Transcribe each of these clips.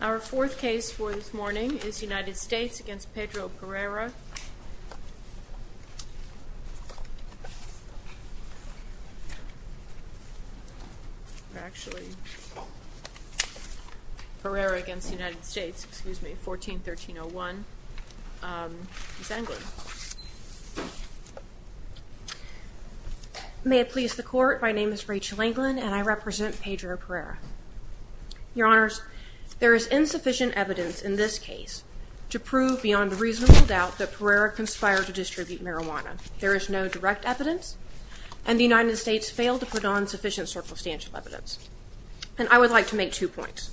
Our fourth case for this morning is United States v. Pedro Pereira, or actually, Pereira v. United States, excuse me, 14-1301, Miss Englund. May it please the Court, my name is Rachel Englund, and I represent Pedro Pereira. Your Honors, there is insufficient evidence in this case to prove beyond reasonable doubt that Pereira conspired to distribute marijuana. There is no direct evidence, and the United States failed to put on sufficient circumstantial evidence. And I would like to make two points.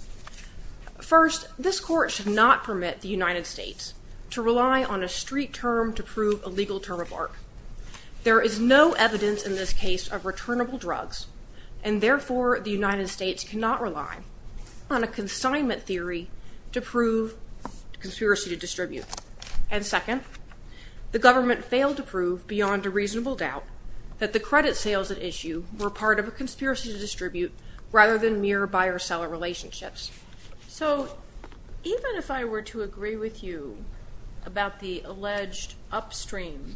First, this Court should not permit the United States to rely on a street term to prove a legal term of art. There is no evidence in this case of returnable drugs, and therefore, the United States cannot rely on a consignment theory to prove conspiracy to distribute. And second, the government failed to prove beyond a reasonable doubt that the credit sales at issue were part of a conspiracy to distribute rather than mere buyer-seller relationships. So, even if I were to agree with you about the alleged upstream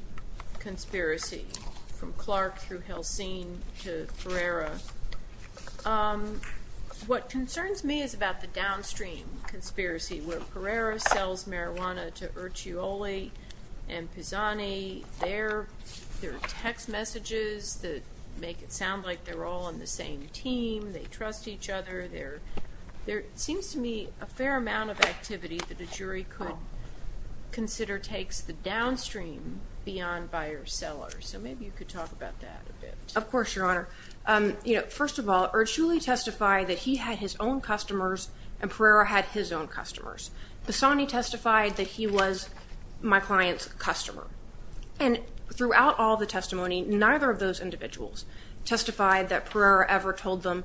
conspiracy from Clark through Helsing to Pereira, what concerns me is about the downstream conspiracy where Pereira sells marijuana to Ercioli and Pisani. There are text messages that make it sound like they're all on the same team. They trust each other. There seems to me a fair amount of activity that a jury could consider takes the downstream beyond buyer-seller. So, maybe you could talk about that a bit. Of course, Your Honor. First of all, Ercioli testified that he had his own customers, and Pereira had his own customers. Pisani testified that he was my client's customer. And throughout all the testimony, neither of those individuals testified that Pereira ever told them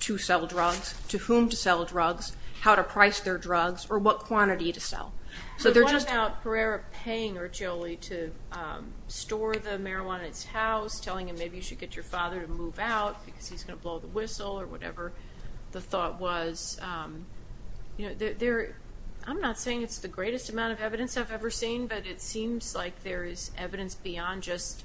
to sell drugs, to whom to sell drugs, how to price their drugs, or what quantity to sell. So, they're just… What about Pereira paying Ercioli to store the marijuana in his house, telling him maybe you should get your father to move out because he's going to blow the whistle or whatever the thought was? I'm not saying it's the greatest amount of evidence I've ever seen, but it seems like there is evidence beyond just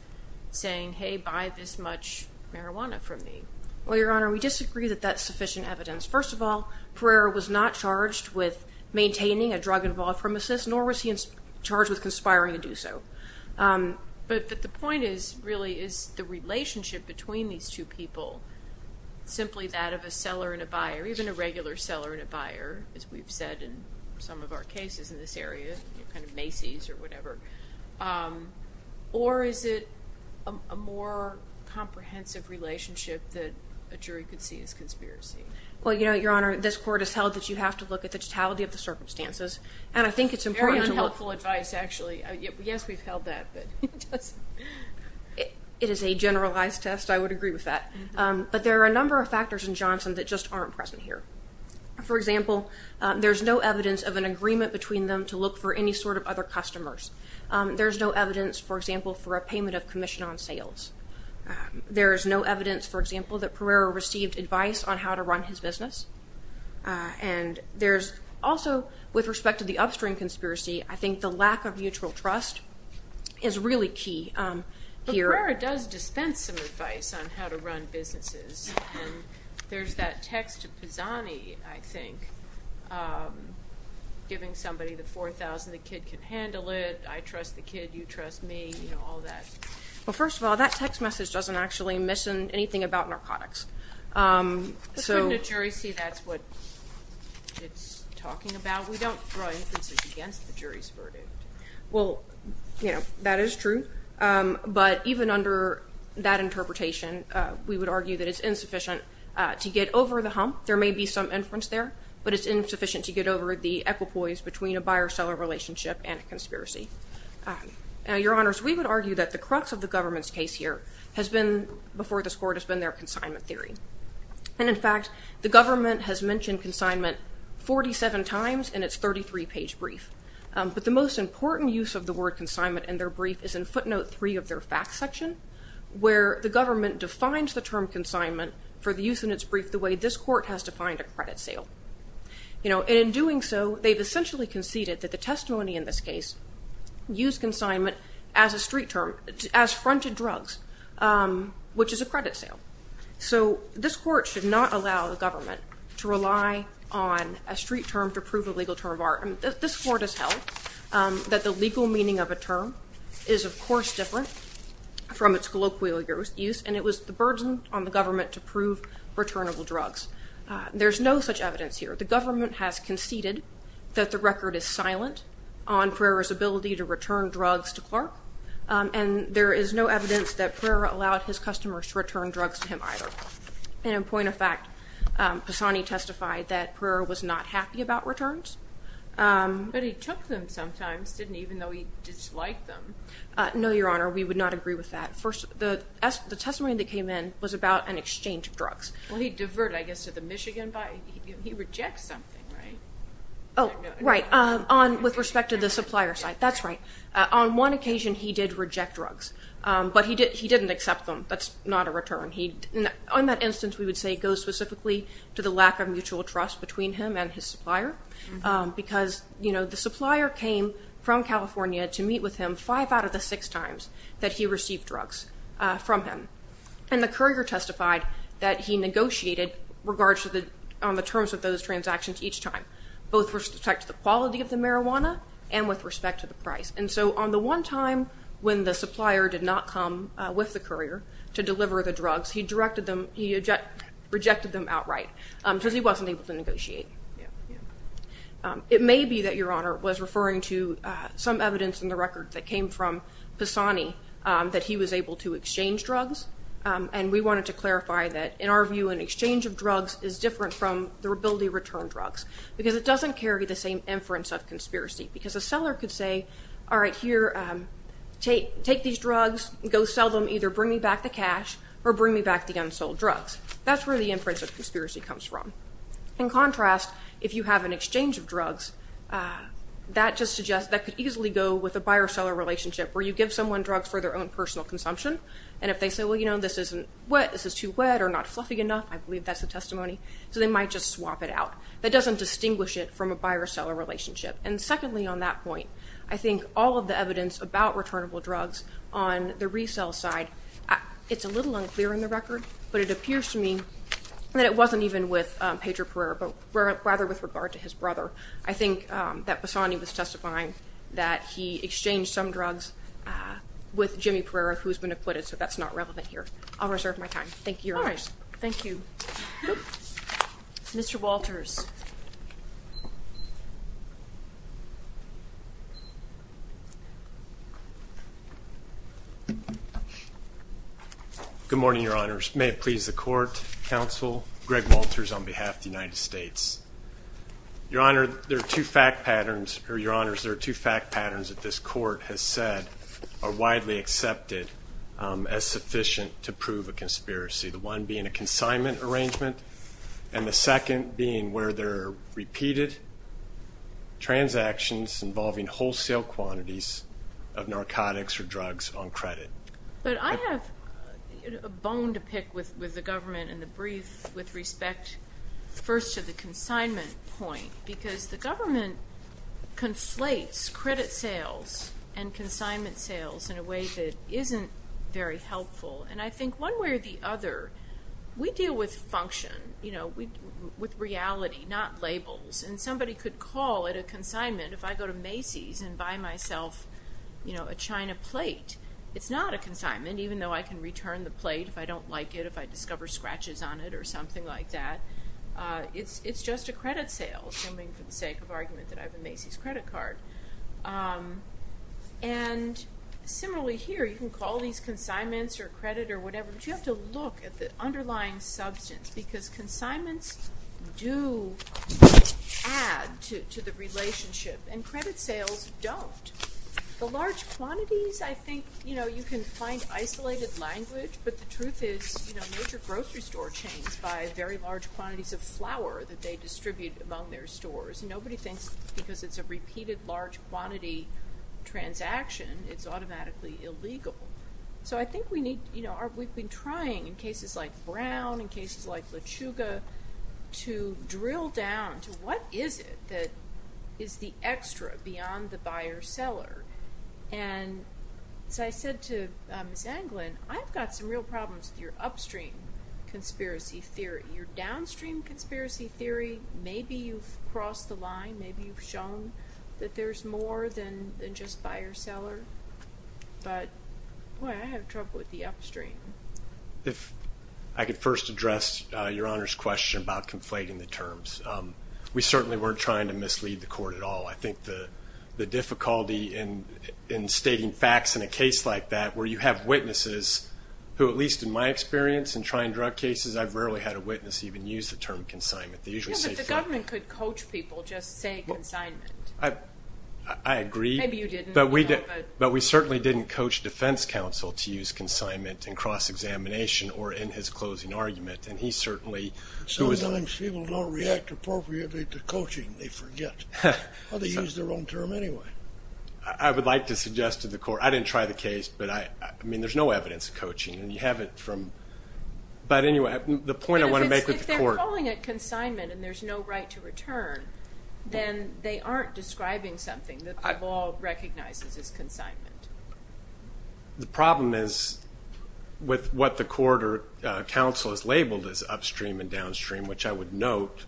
saying, hey, buy this much marijuana from me. Well, Your Honor, we disagree that that's sufficient evidence. First of all, Pereira was not charged with maintaining a drug-involved premises, nor was he charged with conspiring to do so. But the point is, really, is the relationship between these two people simply that of a seller and a buyer, even a regular seller and a buyer, as we've said in some of our cases in this area, kind of Macy's or whatever, or is it a more comprehensive relationship that a jury could see as conspiracy? Well, Your Honor, this court has held that you have to look at the totality of the circumstances, and I think it's important to look… Yes, we've held that. It is a generalized test. I would agree with that. But there are a number of factors in Johnson that just aren't present here. For example, there's no evidence of an agreement between them to look for any sort of other customers. There's no evidence, for example, for a payment of commission on sales. There is no evidence, for example, that Pereira received advice on how to run his business. And there's also, with respect to the upstream conspiracy, I think the lack of mutual trust is really key here. But Pereira does dispense some advice on how to run businesses, and there's that text to Pisani, I think, giving somebody the $4,000, the kid can handle it, I trust the kid, you trust me, you know, all that. Well, first of all, that text message doesn't actually mention anything about narcotics. But shouldn't a jury see that's what it's talking about? We don't draw inferences against the jury's verdict. Well, you know, that is true, but even under that interpretation, we would argue that it's insufficient to get over the hump. There may be some inference there, but it's insufficient to get over the equipoise between a buyer-seller relationship and a conspiracy. Now, Your Honors, we would argue that the crux of the government's case here has been, before this Court, has been their consignment theory. And, in fact, the government has mentioned consignment 47 times in its 33-page brief. But the most important use of the word consignment in their brief is in footnote 3 of their facts section, where the government defines the term consignment for the use in its brief the way this Court has defined a credit sale. You know, and in doing so, they've essentially conceded that the testimony in this case used consignment as a street term, as fronted drugs, which is a credit sale. So this Court should not allow the government to rely on a street term to prove a legal term of art. This Court has held that the legal meaning of a term is, of course, different from its colloquial use, and it was the burden on the government to prove returnable drugs. There's no such evidence here. The government has conceded that the record is silent on Pereira's ability to return drugs to Clark, and there is no evidence that Pereira allowed his customers to return drugs to him either. And, in point of fact, Passani testified that Pereira was not happy about returns. But he took them sometimes, didn't he, even though he disliked them? No, Your Honor, we would not agree with that. First, the testimony that came in was about an exchange of drugs. Well, he diverted, I guess, to the Michigan body. He rejects something, right? Oh, right, with respect to the supplier side. That's right. On one occasion, he did reject drugs, but he didn't accept them. That's not a return. In that instance, we would say it goes specifically to the lack of mutual trust between him and his supplier because, you know, the supplier came from California to meet with him five out of the six times that he received drugs from him. And the courier testified that he negotiated on the terms of those transactions each time, both with respect to the quality of the marijuana and with respect to the price. And so on the one time when the supplier did not come with the courier to deliver the drugs, he rejected them outright because he wasn't able to negotiate. It may be that Your Honor was referring to some evidence in the record that came from Pisani that he was able to exchange drugs. And we wanted to clarify that, in our view, an exchange of drugs is different from the ability to return drugs because it doesn't carry the same inference of conspiracy. Because a seller could say, all right, here, take these drugs, go sell them, either bring me back the cash or bring me back the unsold drugs. That's where the inference of conspiracy comes from. In contrast, if you have an exchange of drugs, that just suggests that could easily go with a buyer-seller relationship where you give someone drugs for their own personal consumption. And if they say, well, you know, this isn't wet, this is too wet or not fluffy enough, I believe that's the testimony, so they might just swap it out. That doesn't distinguish it from a buyer-seller relationship. And secondly on that point, I think all of the evidence about returnable drugs on the resale side, it's a little unclear in the record, but it appears to me that it wasn't even with Pedro Pereira, but rather with regard to his brother. I think that Pisani was testifying that he exchanged some drugs with Jimmy Pereira, who has been acquitted, so that's not relevant here. I'll reserve my time. Thank you, Your Honor. All right. Thank you. Mr. Walters. Good morning, Your Honors. May it please the court, counsel, Greg Walters on behalf of the United States. Your Honor, there are two fact patterns that this court has said are widely accepted as sufficient to prove a conspiracy, the one being a consignment arrangement and the second being where there are repeated transactions involving wholesale quantities of narcotics or drugs on credit. But I have a bone to pick with the government in the brief with respect first to the consignment point, because the government conflates credit sales and consignment sales in a way that isn't very helpful, and I think one way or the other, we deal with function, with reality, not labels, and somebody could call it a consignment if I go to Macy's and buy myself a China plate. It's not a consignment, even though I can return the plate if I don't like it, if I discover scratches on it or something like that. It's just a credit sale, assuming for the sake of argument that I have a Macy's credit card. And similarly here, you can call these consignments or credit or whatever, but you have to look at the underlying substance because consignments do add to the relationship and credit sales don't. The large quantities, I think you can find isolated language, but the truth is major grocery store chains buy very large quantities of flour that they distribute among their stores. Nobody thinks because it's a repeated large quantity transaction, it's automatically illegal. So I think we need, you know, we've been trying in cases like Brown, in cases like LeChuga, to drill down to what is it that is the extra beyond the buyer-seller. And so I said to Ms. Anglin, I've got some real problems with your upstream conspiracy theory. Your downstream conspiracy theory, maybe you've crossed the line. Maybe you've shown that there's more than just buyer-seller. But boy, I have trouble with the upstream. If I could first address Your Honor's question about conflating the terms. We certainly weren't trying to mislead the court at all. I think the difficulty in stating facts in a case like that where you have witnesses, who at least in my experience in trying drug cases, I've rarely had a witness even use the term consignment. The government could coach people, just say consignment. I agree. Maybe you didn't. But we certainly didn't coach defense counsel to use consignment in cross-examination or in his closing argument. Sometimes people don't react appropriately to coaching. They forget. Or they use their own term anyway. I would like to suggest to the court, I didn't try the case, but I mean there's no evidence of coaching. And you haven't from, but anyway, the point I want to make with the court. If they're calling it consignment and there's no right to return, then they aren't describing something that the law recognizes as consignment. The problem is with what the court or counsel has labeled as upstream and downstream, which I would note,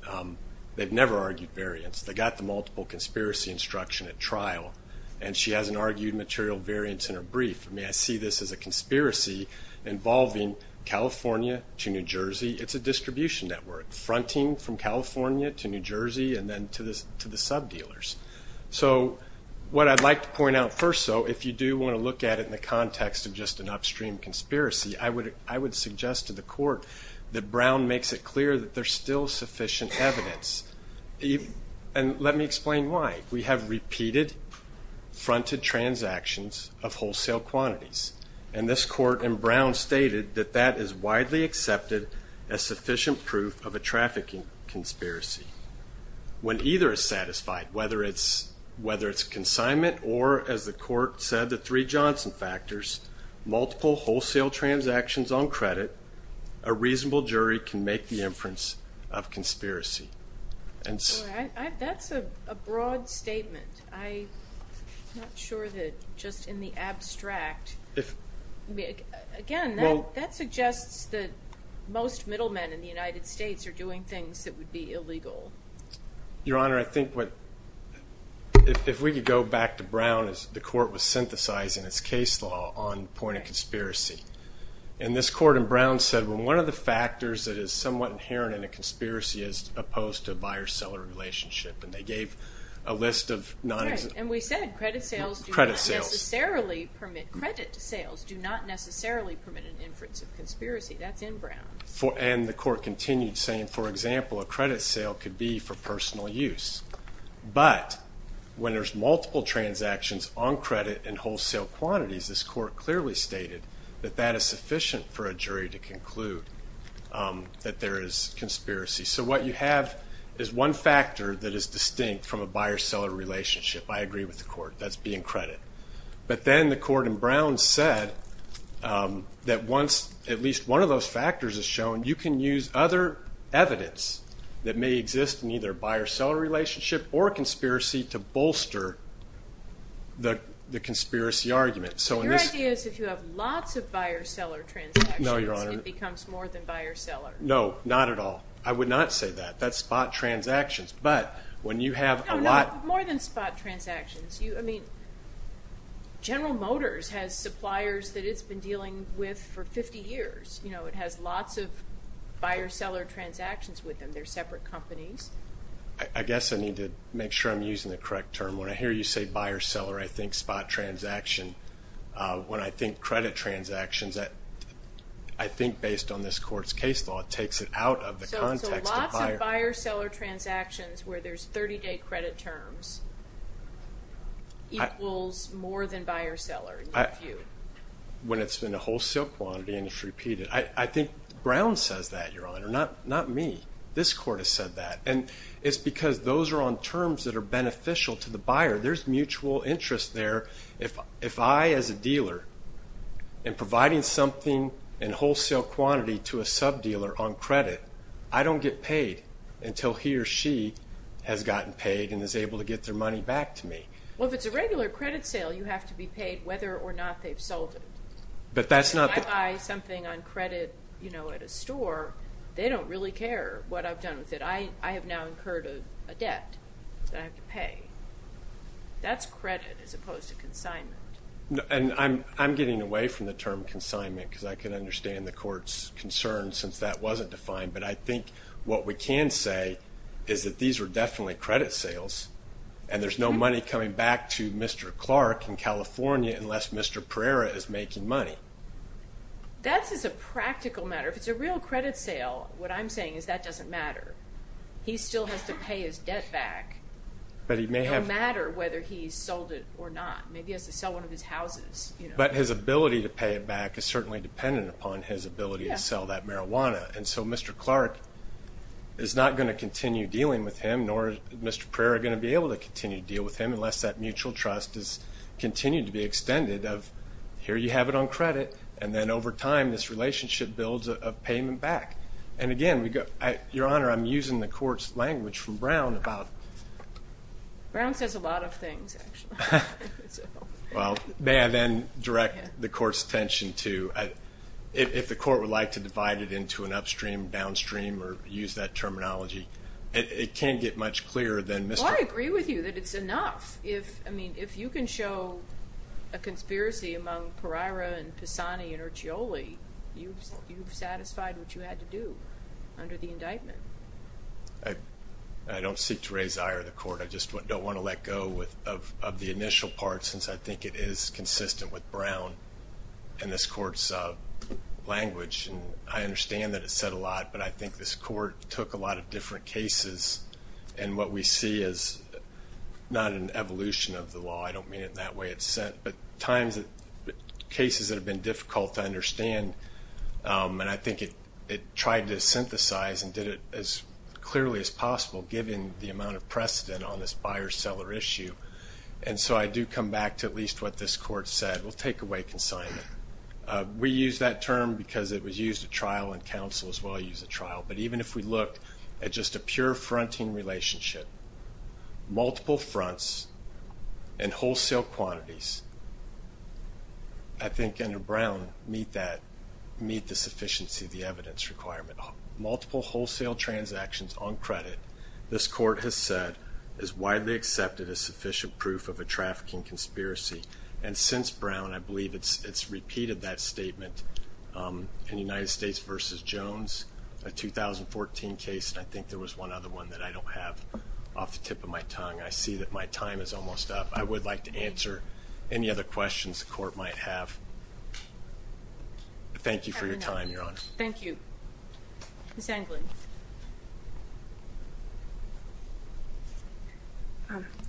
they've never argued variance. They got the multiple conspiracy instruction at trial, and she hasn't argued material variance in her brief. I mean, I see this as a conspiracy involving California to New Jersey. It's a distribution network, fronting from California to New Jersey and then to the sub-dealers. So what I'd like to point out first, though, if you do want to look at it in the context of just an upstream conspiracy, I would suggest to the court that Brown makes it clear that there's still sufficient evidence. And let me explain why. We have repeated fronted transactions of wholesale quantities, and this court in Brown stated that that is widely accepted as sufficient proof of a trafficking conspiracy. When either is satisfied, whether it's consignment or, as the court said, the three Johnson factors, multiple wholesale transactions on credit, a reasonable jury can make the inference of conspiracy. That's a broad statement. I'm not sure that just in the abstract. Again, that suggests that most middlemen in the United States are doing things that would be illegal. Your Honor, I think if we could go back to Brown, the court was synthesizing its case law on point of conspiracy. And this court in Brown said when one of the factors that is somewhat inherent in a conspiracy is opposed to a buyer-seller relationship, and they gave a list of non-existent. And we said credit sales do not necessarily permit an inference of conspiracy. That's in Brown. And the court continued saying, for example, a credit sale could be for personal use. But when there's multiple transactions on credit and wholesale quantities, this court clearly stated that that is sufficient for a jury to conclude that there is conspiracy. So what you have is one factor that is distinct from a buyer-seller relationship. I agree with the court. That's being credit. But then the court in Brown said that once at least one of those factors is shown, you can use other evidence that may exist in either a buyer-seller relationship or a conspiracy to bolster the conspiracy argument. Your idea is if you have lots of buyer-seller transactions, it becomes more than buyer-seller. No, not at all. I would not say that. That's spot transactions. No, more than spot transactions. General Motors has suppliers that it's been dealing with for 50 years. It has lots of buyer-seller transactions with them. They're separate companies. I guess I need to make sure I'm using the correct term. When I hear you say buyer-seller, I think spot transaction. When I think credit transactions, I think based on this court's case law, it takes it out of the context of buyer. So lots of buyer-seller transactions where there's 30-day credit terms equals more than buyer-seller in your view. When it's in a wholesale quantity and it's repeated. I think Brown says that, Your Honor, not me. This court has said that. And it's because those are on terms that are beneficial to the buyer. There's mutual interest there. If I, as a dealer, am providing something in wholesale quantity to a sub-dealer on credit, I don't get paid until he or she has gotten paid and is able to get their money back to me. Well, if it's a regular credit sale, you have to be paid whether or not they've sold it. If I buy something on credit at a store, they don't really care what I've done with it. I have now incurred a debt that I have to pay. That's credit as opposed to consignment. And I'm getting away from the term consignment because I can understand the court's concern since that wasn't defined. But I think what we can say is that these were definitely credit sales and there's no money coming back to Mr. Clark in California unless Mr. Pereira is making money. That's just a practical matter. If it's a real credit sale, what I'm saying is that doesn't matter. He still has to pay his debt back no matter whether he sold it or not. Maybe he has to sell one of his houses. But his ability to pay it back is certainly dependent upon his ability to sell that marijuana. And so Mr. Clark is not going to continue dealing with him, nor is Mr. Pereira going to be able to continue to deal with him unless that mutual trust has continued to be extended of, here you have it on credit, and then over time this relationship builds a payment back. And, again, Your Honor, I'm using the court's language from Brown about... Brown says a lot of things, actually. Well, may I then direct the court's attention to if the court would like to divide it into an upstream, downstream, or use that terminology, it can't get much clearer than Mr. Clark... Well, I agree with you that it's enough. I mean, if you can show a conspiracy among Pereira and Pisani and Urchioli, you've satisfied what you had to do under the indictment. I just don't want to let go of the initial part since I think it is consistent with Brown and this court's language. And I understand that it's said a lot, but I think this court took a lot of different cases, and what we see is not an evolution of the law. I don't mean it in that way. It's sent, at times, cases that have been difficult to understand, and I think it tried to synthesize and did it as clearly as possible, given the amount of precedent on this buyer-seller issue. And so I do come back to at least what this court said. We'll take away consignment. We use that term because it was used at trial and counsel as well used at trial. But even if we look at just a pure fronting relationship, multiple fronts and wholesale quantities, I think under Brown meet that, meet the sufficiency of the evidence requirement. Multiple wholesale transactions on credit, this court has said, is widely accepted as sufficient proof of a trafficking conspiracy. And since Brown, I believe it's repeated that statement in United States v. Jones, a 2014 case, and I think there was one other one that I don't have off the tip of my tongue. I see that my time is almost up. I would like to answer any other questions the court might have. Thank you for your time, Your Honor. Thank you. Ms. Anglin.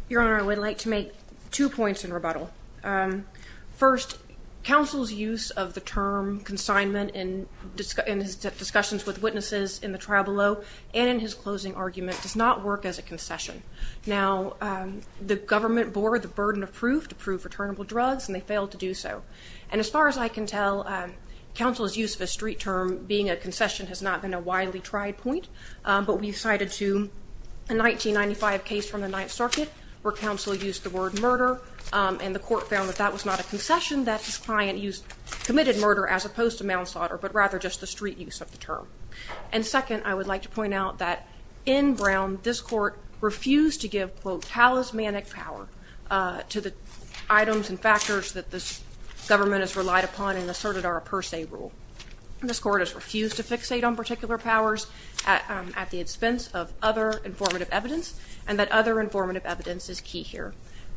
Your Honor, I would like to make two points in rebuttal. First, counsel's use of the term consignment in his discussions with witnesses in the trial below and in his closing argument does not work as a concession. Now, the government bore the burden of proof, to prove returnable drugs, and they failed to do so. And as far as I can tell, counsel's use of a street term being a concession has not been a widely tried point, but we've cited to a 1995 case from the Ninth Circuit where counsel used the word murder, and the court found that that was not a concession, that his client used committed murder as opposed to manslaughter, but rather just the street use of the term. And second, I would like to point out that in Brown, this court refused to give, quote, talismanic power to the items and factors that this government has relied upon and asserted are a per se rule. This court has refused to fixate on particular powers at the expense of other informative evidence, and that other informative evidence is key here,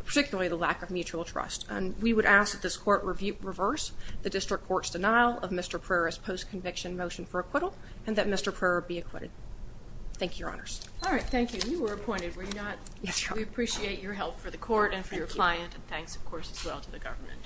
particularly the lack of mutual trust. And we would ask that this court reverse the district court's denial of Mr. Prera's post-conviction motion for acquittal and that Mr. Prera be acquitted. Thank you, Your Honors. All right, thank you. You were appointed, were you not? Yes, Your Honor. We appreciate your help for the court and for your client, and thanks, of course, as well to the government.